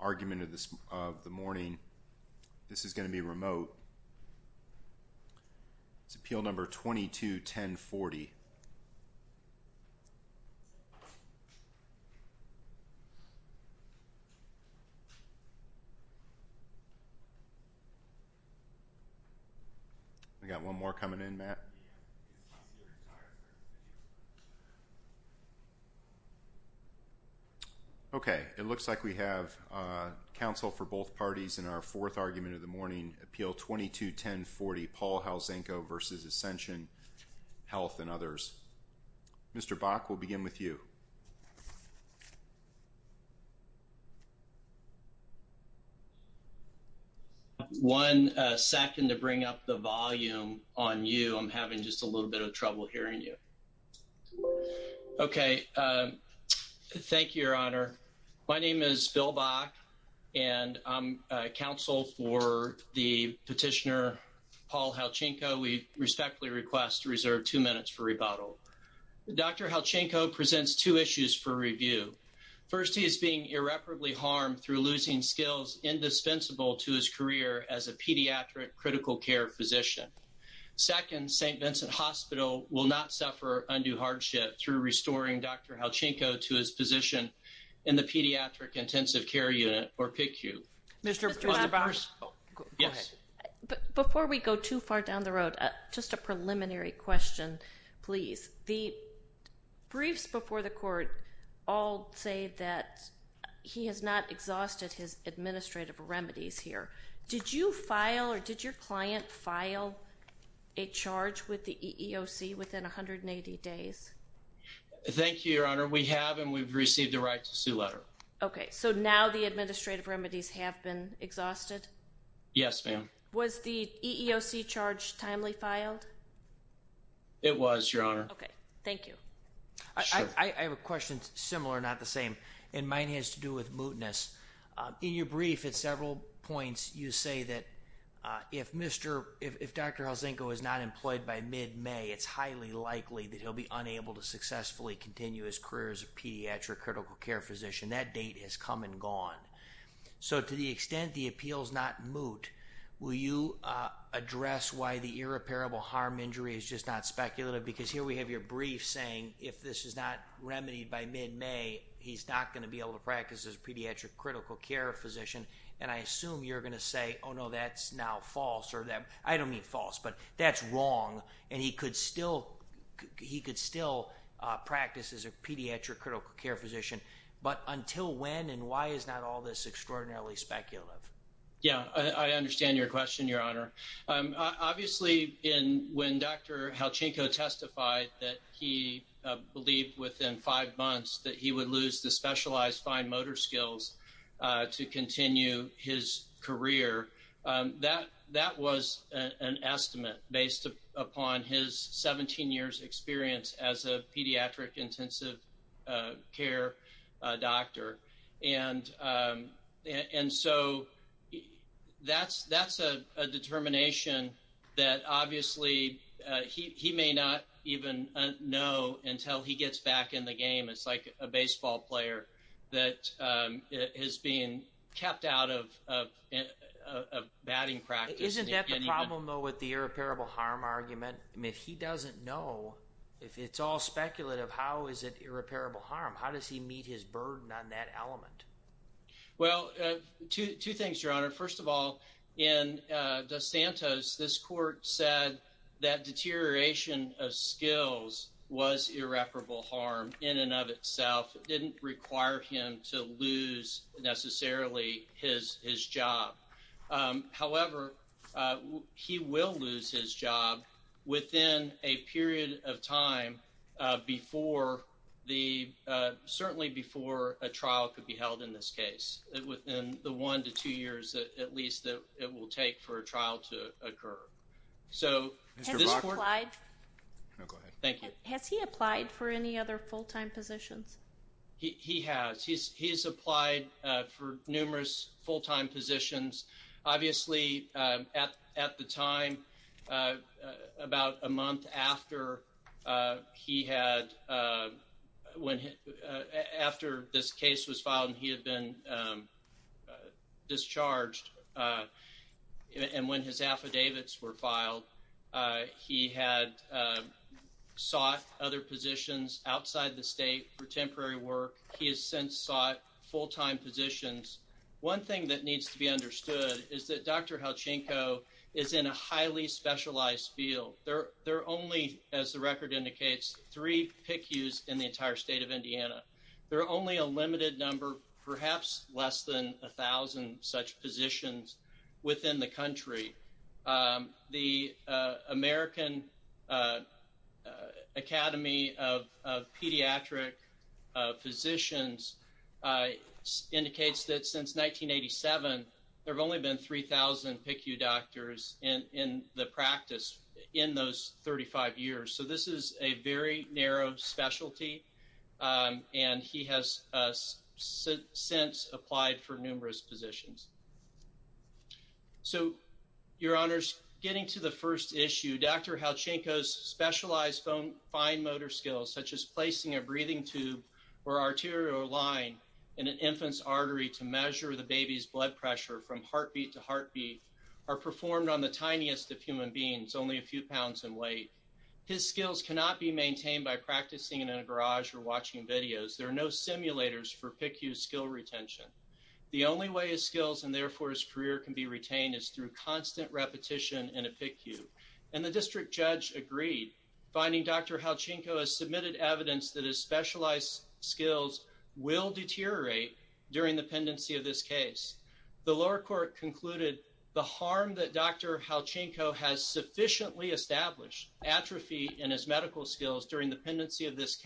argument of the morning. This is going to be remote. It's appeal number 22-1040. We got one more coming in, Matt. Okay, it looks like we have counsel for both parties in our fourth argument of the morning, appeal 22-1040, Paul Halczenko v. Ascension Health and others. Mr. Bach, we'll begin with you. One second to bring up the volume on you. I'm having just a little bit of trouble hearing you. Okay, thank you, Your Honor. My name is Bill Bach, and I'm counsel for the petitioner Paul Halczenko. We respectfully request to reserve two minutes for rebuttal. Dr. Halczenko presents two issues for review. First, he is being irreparably harmed through losing skills indispensable to his career as a pediatric critical care physician. Second, St. Vincent Hospital will not suffer undue hardship through restoring Dr. Halczenko to his position in the Pediatric Intensive Care Unit, or PICU. Before we go too far down the road, just a preliminary question, please. The briefs before the court all say that he has not exhausted his administrative remedies here. Did you file or did your client file a charge with the EEOC within 180 days? Thank you, Your Honor. We have, and we've received a right to sue letter. Okay, so now the administrative remedies have been exhausted? Yes, ma'am. Was the EEOC charge timely filed? It was, Your Honor. Okay, thank you. I have a question similar, not the same, and mine has to do with mootness. In your brief at several points, you say that if Dr. Halczenko is not employed by mid-May, it's highly likely that he'll be unable to successfully continue his career as a pediatric critical care physician. That date has come and gone. So, to the extent the appeal's not moot, will you address why the irreparable harm injury is just not speculative? Because here we have your brief saying, if this is not remedied by mid-May, he's not going to be able to practice as a pediatric critical care physician, and I assume you're going to say, oh no, that's now false, or that, I don't mean false, but that's wrong, and he could still, he could still practice as a pediatric critical care physician, but until when and why is not all this extraordinarily speculative? Yeah, I understand your question, Your Honor. Obviously, when Dr. Halczenko testified that he believed within five months that he would lose the specialized fine motor skills to continue his career, that was an estimate based upon his 17 years experience as a pediatric intensive care doctor. And so, that's a determination that, obviously, he may not even know until he gets back in the game. It's like a baseball player that is being kept out of batting practice. Isn't that the problem, though, the irreparable harm argument? I mean, if he doesn't know, if it's all speculative, how is it irreparable harm? How does he meet his burden on that element? Well, two things, Your Honor. First of all, in DeSantos, this court said that deterioration of skills was irreparable harm in and of itself. It didn't require him to lose, necessarily, his job. However, he will lose his job within a period of time, certainly before a trial could be held in this case. Within the one to two years, at least, that it will take for a trial to occur. So, this court— Has he applied for any other full-time positions? He has. He has applied for numerous full-time positions. Obviously, at the time, about a month after this case was filed and he had been discharged and when his affidavits were filed, he had sought other positions outside the state for temporary work. He has since sought full-time positions. One thing that needs to be understood is that Dr. Halchenko is in a highly specialized field. There are only, as the record indicates, three PICUs in the entire state of Indiana. There are only a limited number, perhaps less than a thousand, such positions within the country. The American Academy of Pediatric Physicians indicates that since 1987, there have only been 3,000 PICU doctors in the practice in those 35 years. So, this is a very So, Your Honors, getting to the first issue, Dr. Halchenko's specialized fine motor skills, such as placing a breathing tube or arterial line in an infant's artery to measure the baby's blood pressure from heartbeat to heartbeat, are performed on the tiniest of human beings, only a few pounds in weight. His skills cannot be maintained by practicing in a garage or watching videos. There are no simulators for PICU skill retention. The only way his skills and, therefore, his career can be retained is through constant repetition in a PICU. And the district judge agreed, finding Dr. Halchenko has submitted evidence that his specialized skills will deteriorate during the pendency of this case. The lower court concluded, the harm that Dr. Halchenko has sufficiently established, atrophy in his medical skills during the pendency of this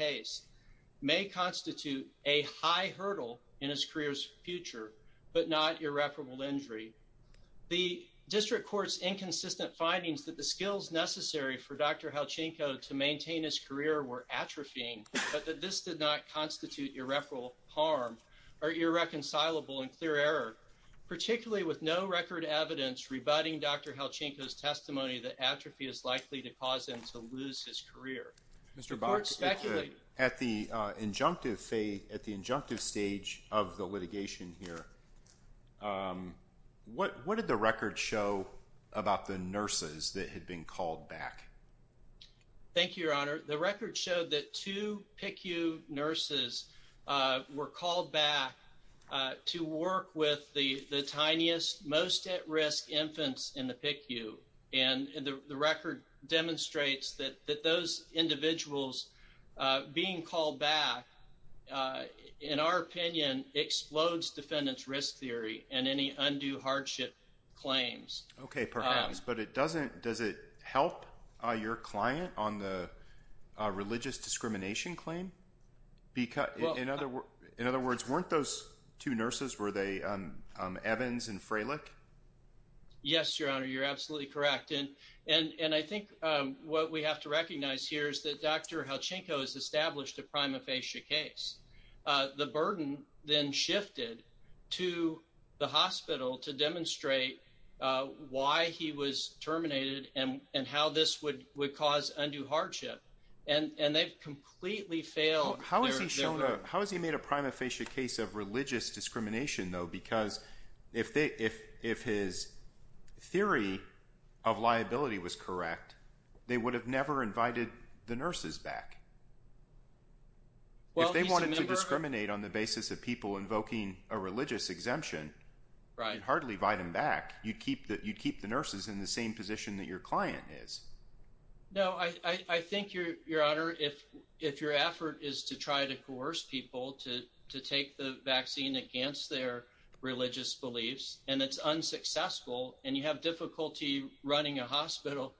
The district court's inconsistent findings that the skills necessary for Dr. Halchenko to maintain his career were atrophying, but that this did not constitute irreparable harm or irreconcilable and clear error, particularly with no record evidence rebutting Dr. Halchenko's testimony that atrophy is likely to cause him to lose his career. The court speculated... What did the record show about the nurses that had been called back? Thank you, your honor. The record showed that two PICU nurses were called back to work with the tiniest, most at-risk infants in the PICU. And the record demonstrates that those individuals being called back, in our opinion, explodes defendant's risk theory and any undue hardship claims. Okay, perhaps. But does it help your client on the religious discrimination claim? In other words, weren't those two nurses, were they Evans and Freilich? Yes, your honor. You're absolutely correct. And I think what we have to recognize here is that Dr. Halchenko has established a prima facie case. The burden then shifted to the hospital to demonstrate why he was terminated and how this would cause undue hardship. And they've completely failed... How has he made a prima facie case of religious discrimination though? Because if his theory of liability was correct, they would have never invited the nurses back. Well, he's a member... If they wanted to discriminate on the basis of people invoking a religious exemption, you'd hardly invite them back. You'd keep the nurses in the same position that your client is. No, I think, your honor, if your effort is to try to coerce people to take the vaccine against their religious beliefs, and it's unsuccessful, and you have difficulty running a hospital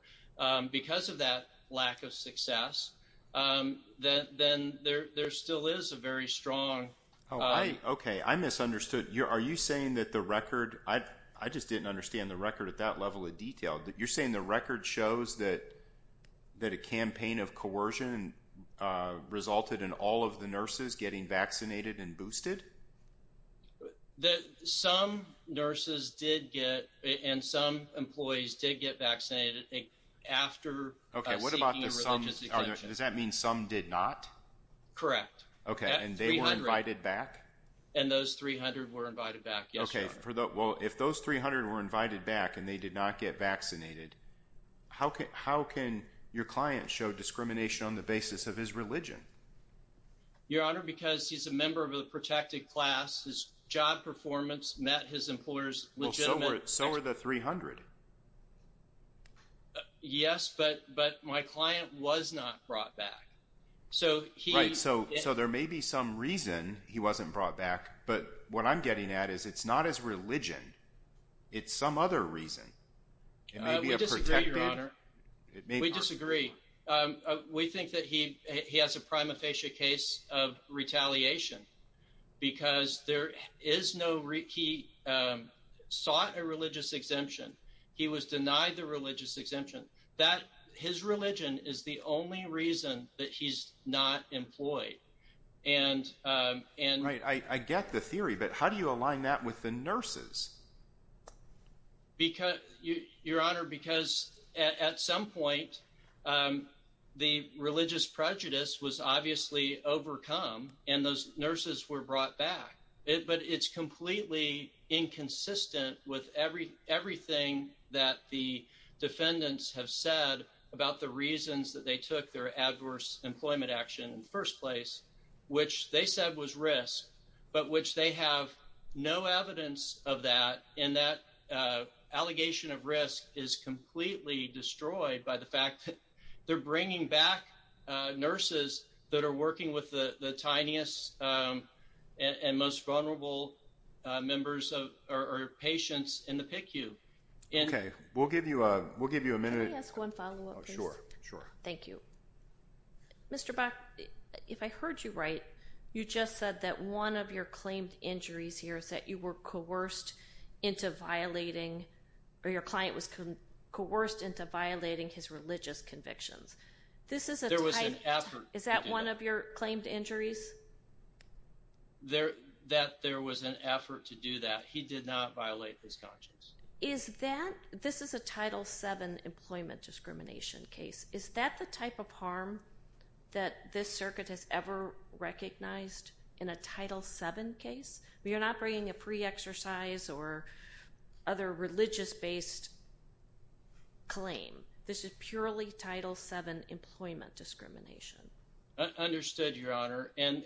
because of that lack of success, then there still is a very strong... Okay, I misunderstood. Are you saying that the record... I just didn't understand the record at that level of detail. You're saying the record shows that a campaign of coercion resulted in all of the nurses getting vaccinated and boosted? Some nurses did get... And some employees did get vaccinated after... Okay, what about the some? Does that mean some did not? Correct. Okay, and they were invited back? And those 300 were invited back, yes, your honor. Well, if those 300 were invited back and they did not get vaccinated, how can your client show discrimination on the basis of his religion? Your honor, because he's a member of a protected class. His job performance met his employer's legitimate... So were the 300. Yes, but my client was not brought back. So he... Right, so there may be some reason he wasn't brought back, but what I'm getting at is it's not his religion. It's some other reason. It may be a protected... We disagree, your honor. We disagree. We think that he has a prima facie case of retaliation because there is no... He sought a religious exemption. He was denied the religious exemption. That... His religion is the only reason that he's not employed. And... I get the theory, but how do you align that with the nurses? Your honor, because at some point, the religious prejudice was obviously overcome and those nurses were brought back. But it's completely inconsistent with everything that the defendants have said about the reasons that they took their adverse employment action in the first place, which they said was risk, but which they have no evidence of that. And that allegation of risk is completely destroyed by the fact that they're bringing back nurses that are working with the tiniest and most vulnerable members or patients in the PICU. Okay, we'll give you a minute. Can I ask one follow-up, please? Sure, sure. Thank you. Mr. Bach, if I heard you right, you just said that one of your claimed injuries here is that you were coerced into violating, or your client was coerced into violating his religious convictions. This is a... There was an effort to do that. Is that one of your claimed injuries? There... That there was an effort to do that. He did not violate his conscience. Is that... This is a Title VII employment discrimination case. Is that the type of harm that this circuit has ever recognized in a Title VII case? You're not bringing a pre-exercise or other religious-based claim. This is purely Title VII employment discrimination. Understood, Your Honor. And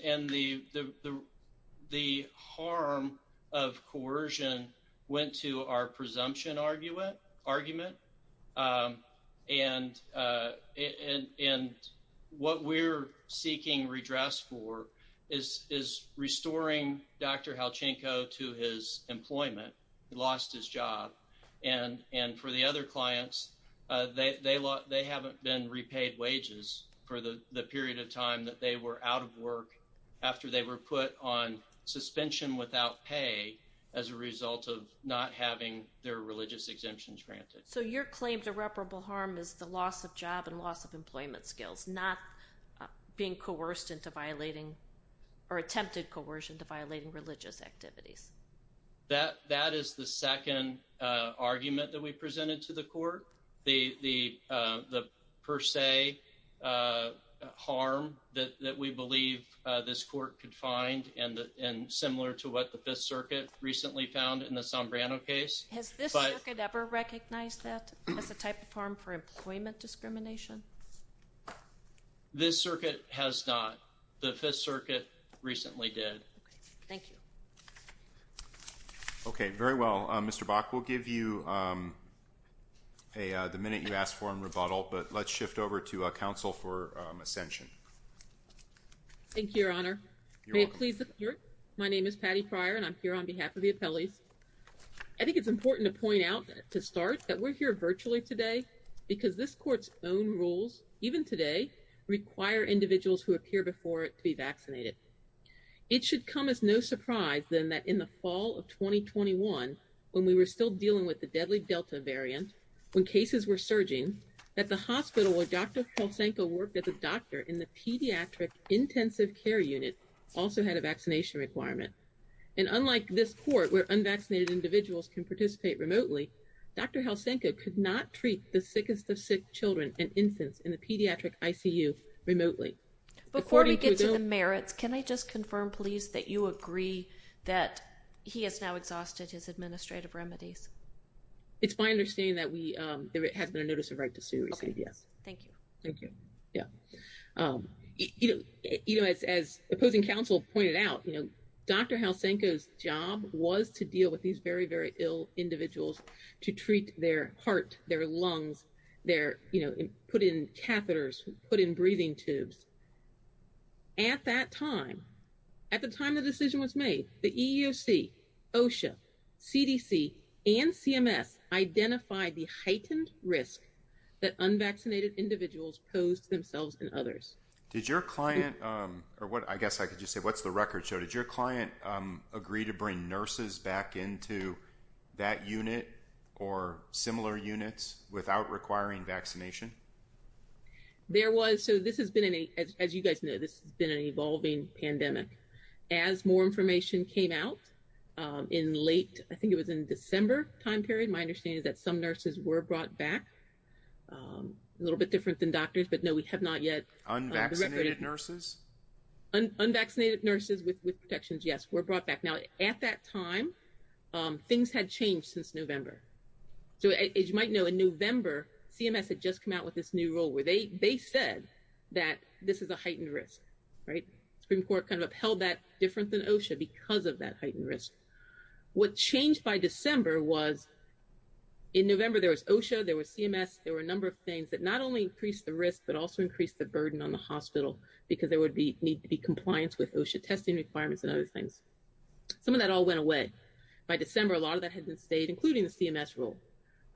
the harm of coercion went to our presumption argument. And what we're seeking redress for is restoring Dr. Halchenko to his employment. He lost his job. And for the other clients, they haven't been repaid wages for the period of time that they were out of work after they were put on suspension without pay as a result of not having their religious exemptions granted. So your claimed irreparable harm is the loss of job and loss of employment skills, not being coerced into violating or attempted coercion to the argument that we presented to the court. The per se harm that we believe this court could find and similar to what the Fifth Circuit recently found in the Sombrano case. Has this circuit ever recognized that as a type of harm for employment discrimination? This circuit has not. The Fifth Circuit recently did. Thank you. Okay, very well. Mr. Bach, we'll give you the minute you asked for in rebuttal, but let's shift over to counsel for ascension. Thank you, Your Honor. May it please the court. My name is Patty Pryor and I'm here on behalf of the appellees. I think it's important to point out to start that we're here virtually today because this court's own rules, even today, require individuals who appear before it to be vaccinated. It should come as no surprise then that in the fall of 2021, when we were still dealing with the deadly Delta variant, when cases were surging, that the hospital where Dr. Halsenko worked as a doctor in the pediatric intensive care unit also had a vaccination requirement. And unlike this court where unvaccinated individuals can participate remotely, Dr. Halsenko could not treat the sickest of sick youth remotely. Before we get to the merits, can I just confirm please that you agree that he has now exhausted his administrative remedies? It's my understanding that there has been a notice of right to sue received, yes. Thank you. Thank you. Yeah. You know, as opposing counsel pointed out, you know, Dr. Halsenko's job was to deal with these very, very ill individuals to treat their heart, their lungs, their, you know, put in catheters, put in breathing tubes. At that time, at the time the decision was made, the EEOC, OSHA, CDC, and CMS identified the heightened risk that unvaccinated individuals posed themselves and others. Did your client, or what I guess I could just say, what's the record show? Did your client agree to bring or similar units without requiring vaccination? There was, so this has been, as you guys know, this has been an evolving pandemic. As more information came out in late, I think it was in December time period, my understanding is that some nurses were brought back, a little bit different than doctors, but no, we have not yet. Unvaccinated nurses? Unvaccinated nurses with protections, yes, were brought back. Now, at that time, things had changed since November. So, as you might know, in November, CMS had just come out with this new rule where they said that this is a heightened risk, right? Supreme Court kind of upheld that different than OSHA because of that heightened risk. What changed by December was in November, there was OSHA, there was CMS, there were a number of things that not only increased the risk, but also increased the burden on the hospital, because there would be need to be compliance with OSHA testing requirements and other things. Some of that all went away. By December, a lot of that had been stayed, including the CMS rule.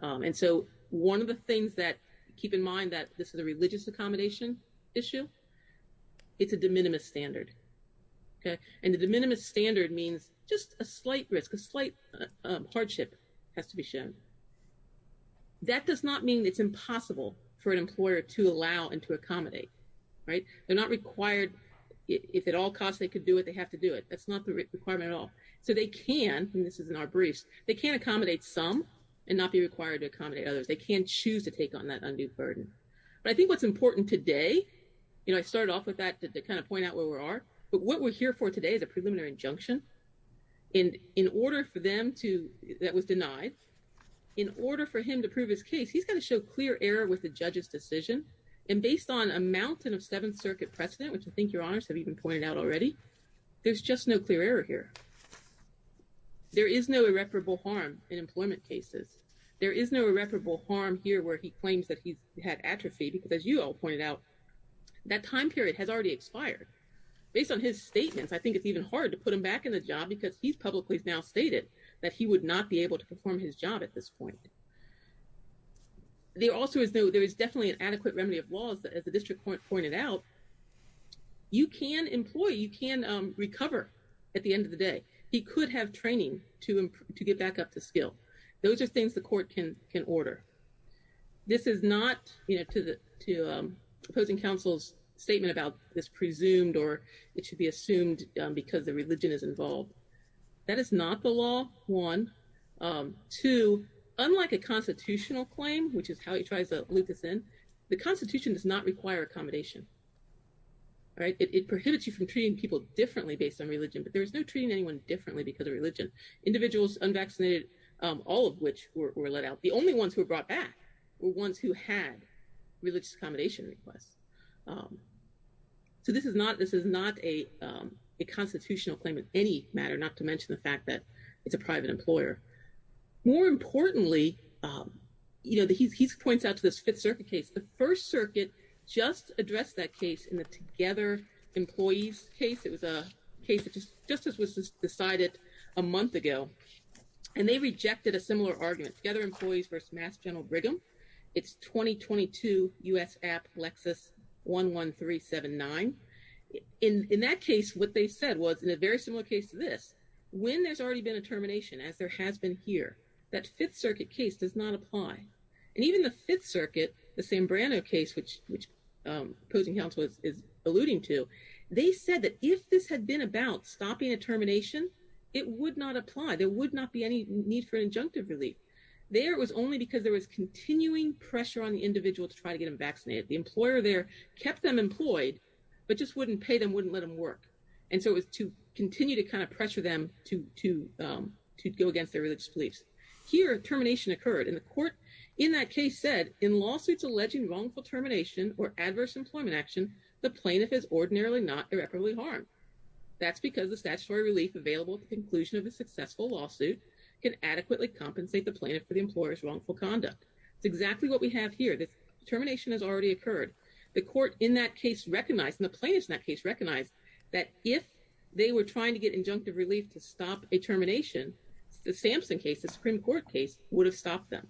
And so, one of the things that, keep in mind that this is a religious accommodation issue, it's a de minimis standard, okay? And the de minimis standard means just a slight risk, a slight hardship has to be shown. That does not mean it's impossible for an employer to allow and to accommodate, right? They're not required, if at all costs they could do it, they have to do it. That's not the requirement at all. So they can, and this is in our briefs, they can accommodate some and not be required to accommodate others. They can choose to take on that undue burden. But I think what's important today, you know, I started off with that to kind of point out where we are, but what we're here for today is a preliminary injunction. And in order for them to, that was denied, in order for him to prove his case, he's got to show clear error with the judge's decision. And based on a mountain of Seventh Circuit precedent, which I think your clear error here, there is no irreparable harm in employment cases. There is no irreparable harm here where he claims that he's had atrophy, because as you all pointed out, that time period has already expired. Based on his statements, I think it's even hard to put him back in the job because he's publicly now stated that he would not be able to perform his job at this point. There also is no, there is definitely an adequate remedy of laws that as the district court pointed out, you can employ, you can recover at the end of the day. He could have training to get back up to skill. Those are things the court can order. This is not, you know, to opposing counsel's statement about this presumed or it should be assumed because the religion is involved. That is not the law, one. Two, unlike a constitutional claim, which is how he tries to loop this in, the constitution does not require accommodation. It prohibits you from treating people differently based on religion, but there is no treating anyone differently because of religion. Individuals unvaccinated, all of which were let out, the only ones who were brought back were ones who had religious accommodation requests. So this is not a constitutional claim in any matter, not to mention the fact that it's a private employer. More importantly, um, you know, the, he's, he's points out to this fifth circuit case. The first circuit just addressed that case in the together employees case. It was a case that just, just as was decided a month ago and they rejected a similar argument together employees versus mass general Brigham. It's 2022 us app Lexus one, one, three, seven, nine. In, in that case, what they said was in a very similar case to this, when there's already been a termination as there has been here, that fifth circuit case does not apply. And even the fifth circuit, the same brand of case, which, which, um, opposing house was, is alluding to, they said that if this had been about stopping a termination, it would not apply. There would not be any need for an injunctive relief there. It was only because there was continuing pressure on the individual to try to get them vaccinated. The employer there kept them employed, but just wouldn't pay them, wouldn't let them work. And so it was to continue to kind of pressure them to, to, um, to go against their religious beliefs here, termination occurred in the court. In that case said in lawsuits, alleging wrongful termination or adverse employment action, the plaintiff is ordinarily not irreparably harmed. That's because the statutory relief available conclusion of a successful lawsuit can adequately compensate the planet for the employer's wrongful conduct. It's exactly what we have here. This termination has already occurred. The court in that case recognized in the plaintiffs in that case, recognized that if they were trying to get injunctive relief to stop a termination, the Sampson case, the Supreme court case would have stopped them.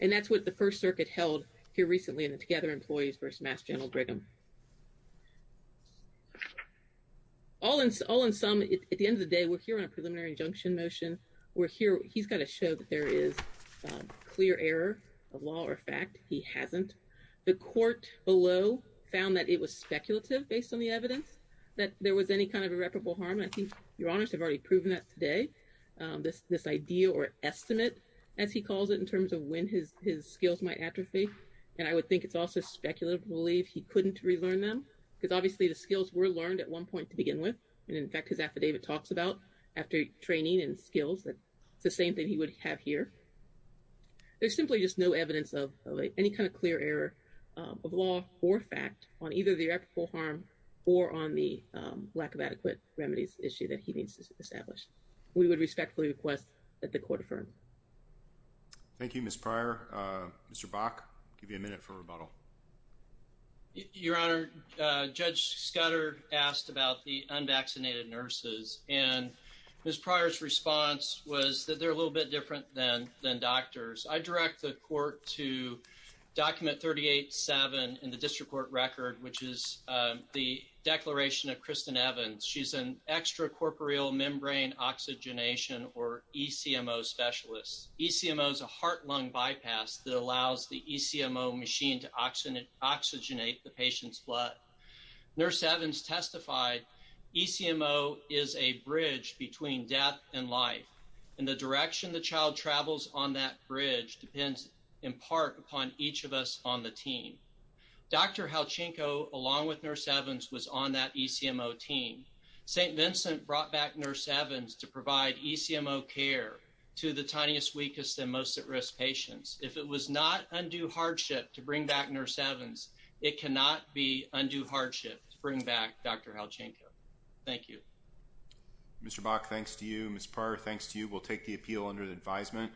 And that's what the first circuit held here recently in the together employees versus mass general Brigham. All in all in some, at the end of the day, we're here on a preliminary injunction motion. We're here. He's got to show that there is a clear error of law or fact he hasn't. The court below found that it was speculative based on the evidence that there was any kind of irreparable harm. I think your honors have already proven that today. This, this idea or estimate as he calls it in terms of when his, his skills might atrophy. And I would think it's also speculative belief. He couldn't relearn them because obviously the skills were learned at one point to begin with. And in fact, his affidavit talks about after training and skills, that it's the same thing he would have here. There's simply just no evidence of any kind of clear error of law or fact on either the harm or on the lack of adequate remedies issue that he needs to establish. We would respectfully request that the court firm. Thank you, Ms. Pryor. Mr. Bach, give you a minute for rebuttal. Your honor, Judge Scudder asked about the unvaccinated nurses and Ms. Pryor's response was that they're a little bit different than, than doctors. I direct the court to document 38 seven in the district court record, which is the declaration of Kristen Evans. She's an extra corporeal membrane oxygenation or ECMO specialists. ECMO is a heart lung bypass that allows the ECMO machine to oxygenate the patient's blood. Nurse Evans testified. ECMO is a bridge between death and life. And the direction the child travels on that bridge depends in part upon each of us on the team. Dr. Halchenko along with nurse Evans was on that ECMO team. St. Vincent brought back nurse Evans to provide ECMO care to the tiniest weakest and most at risk patients. If it was not undue hardship to bring back nurse Evans, it cannot be undue hardship to bring back Dr. Halchenko. Thank you. Mr. Bach, thanks to you. Ms. Pryor, thanks to you. We'll take the appeal under the advisement.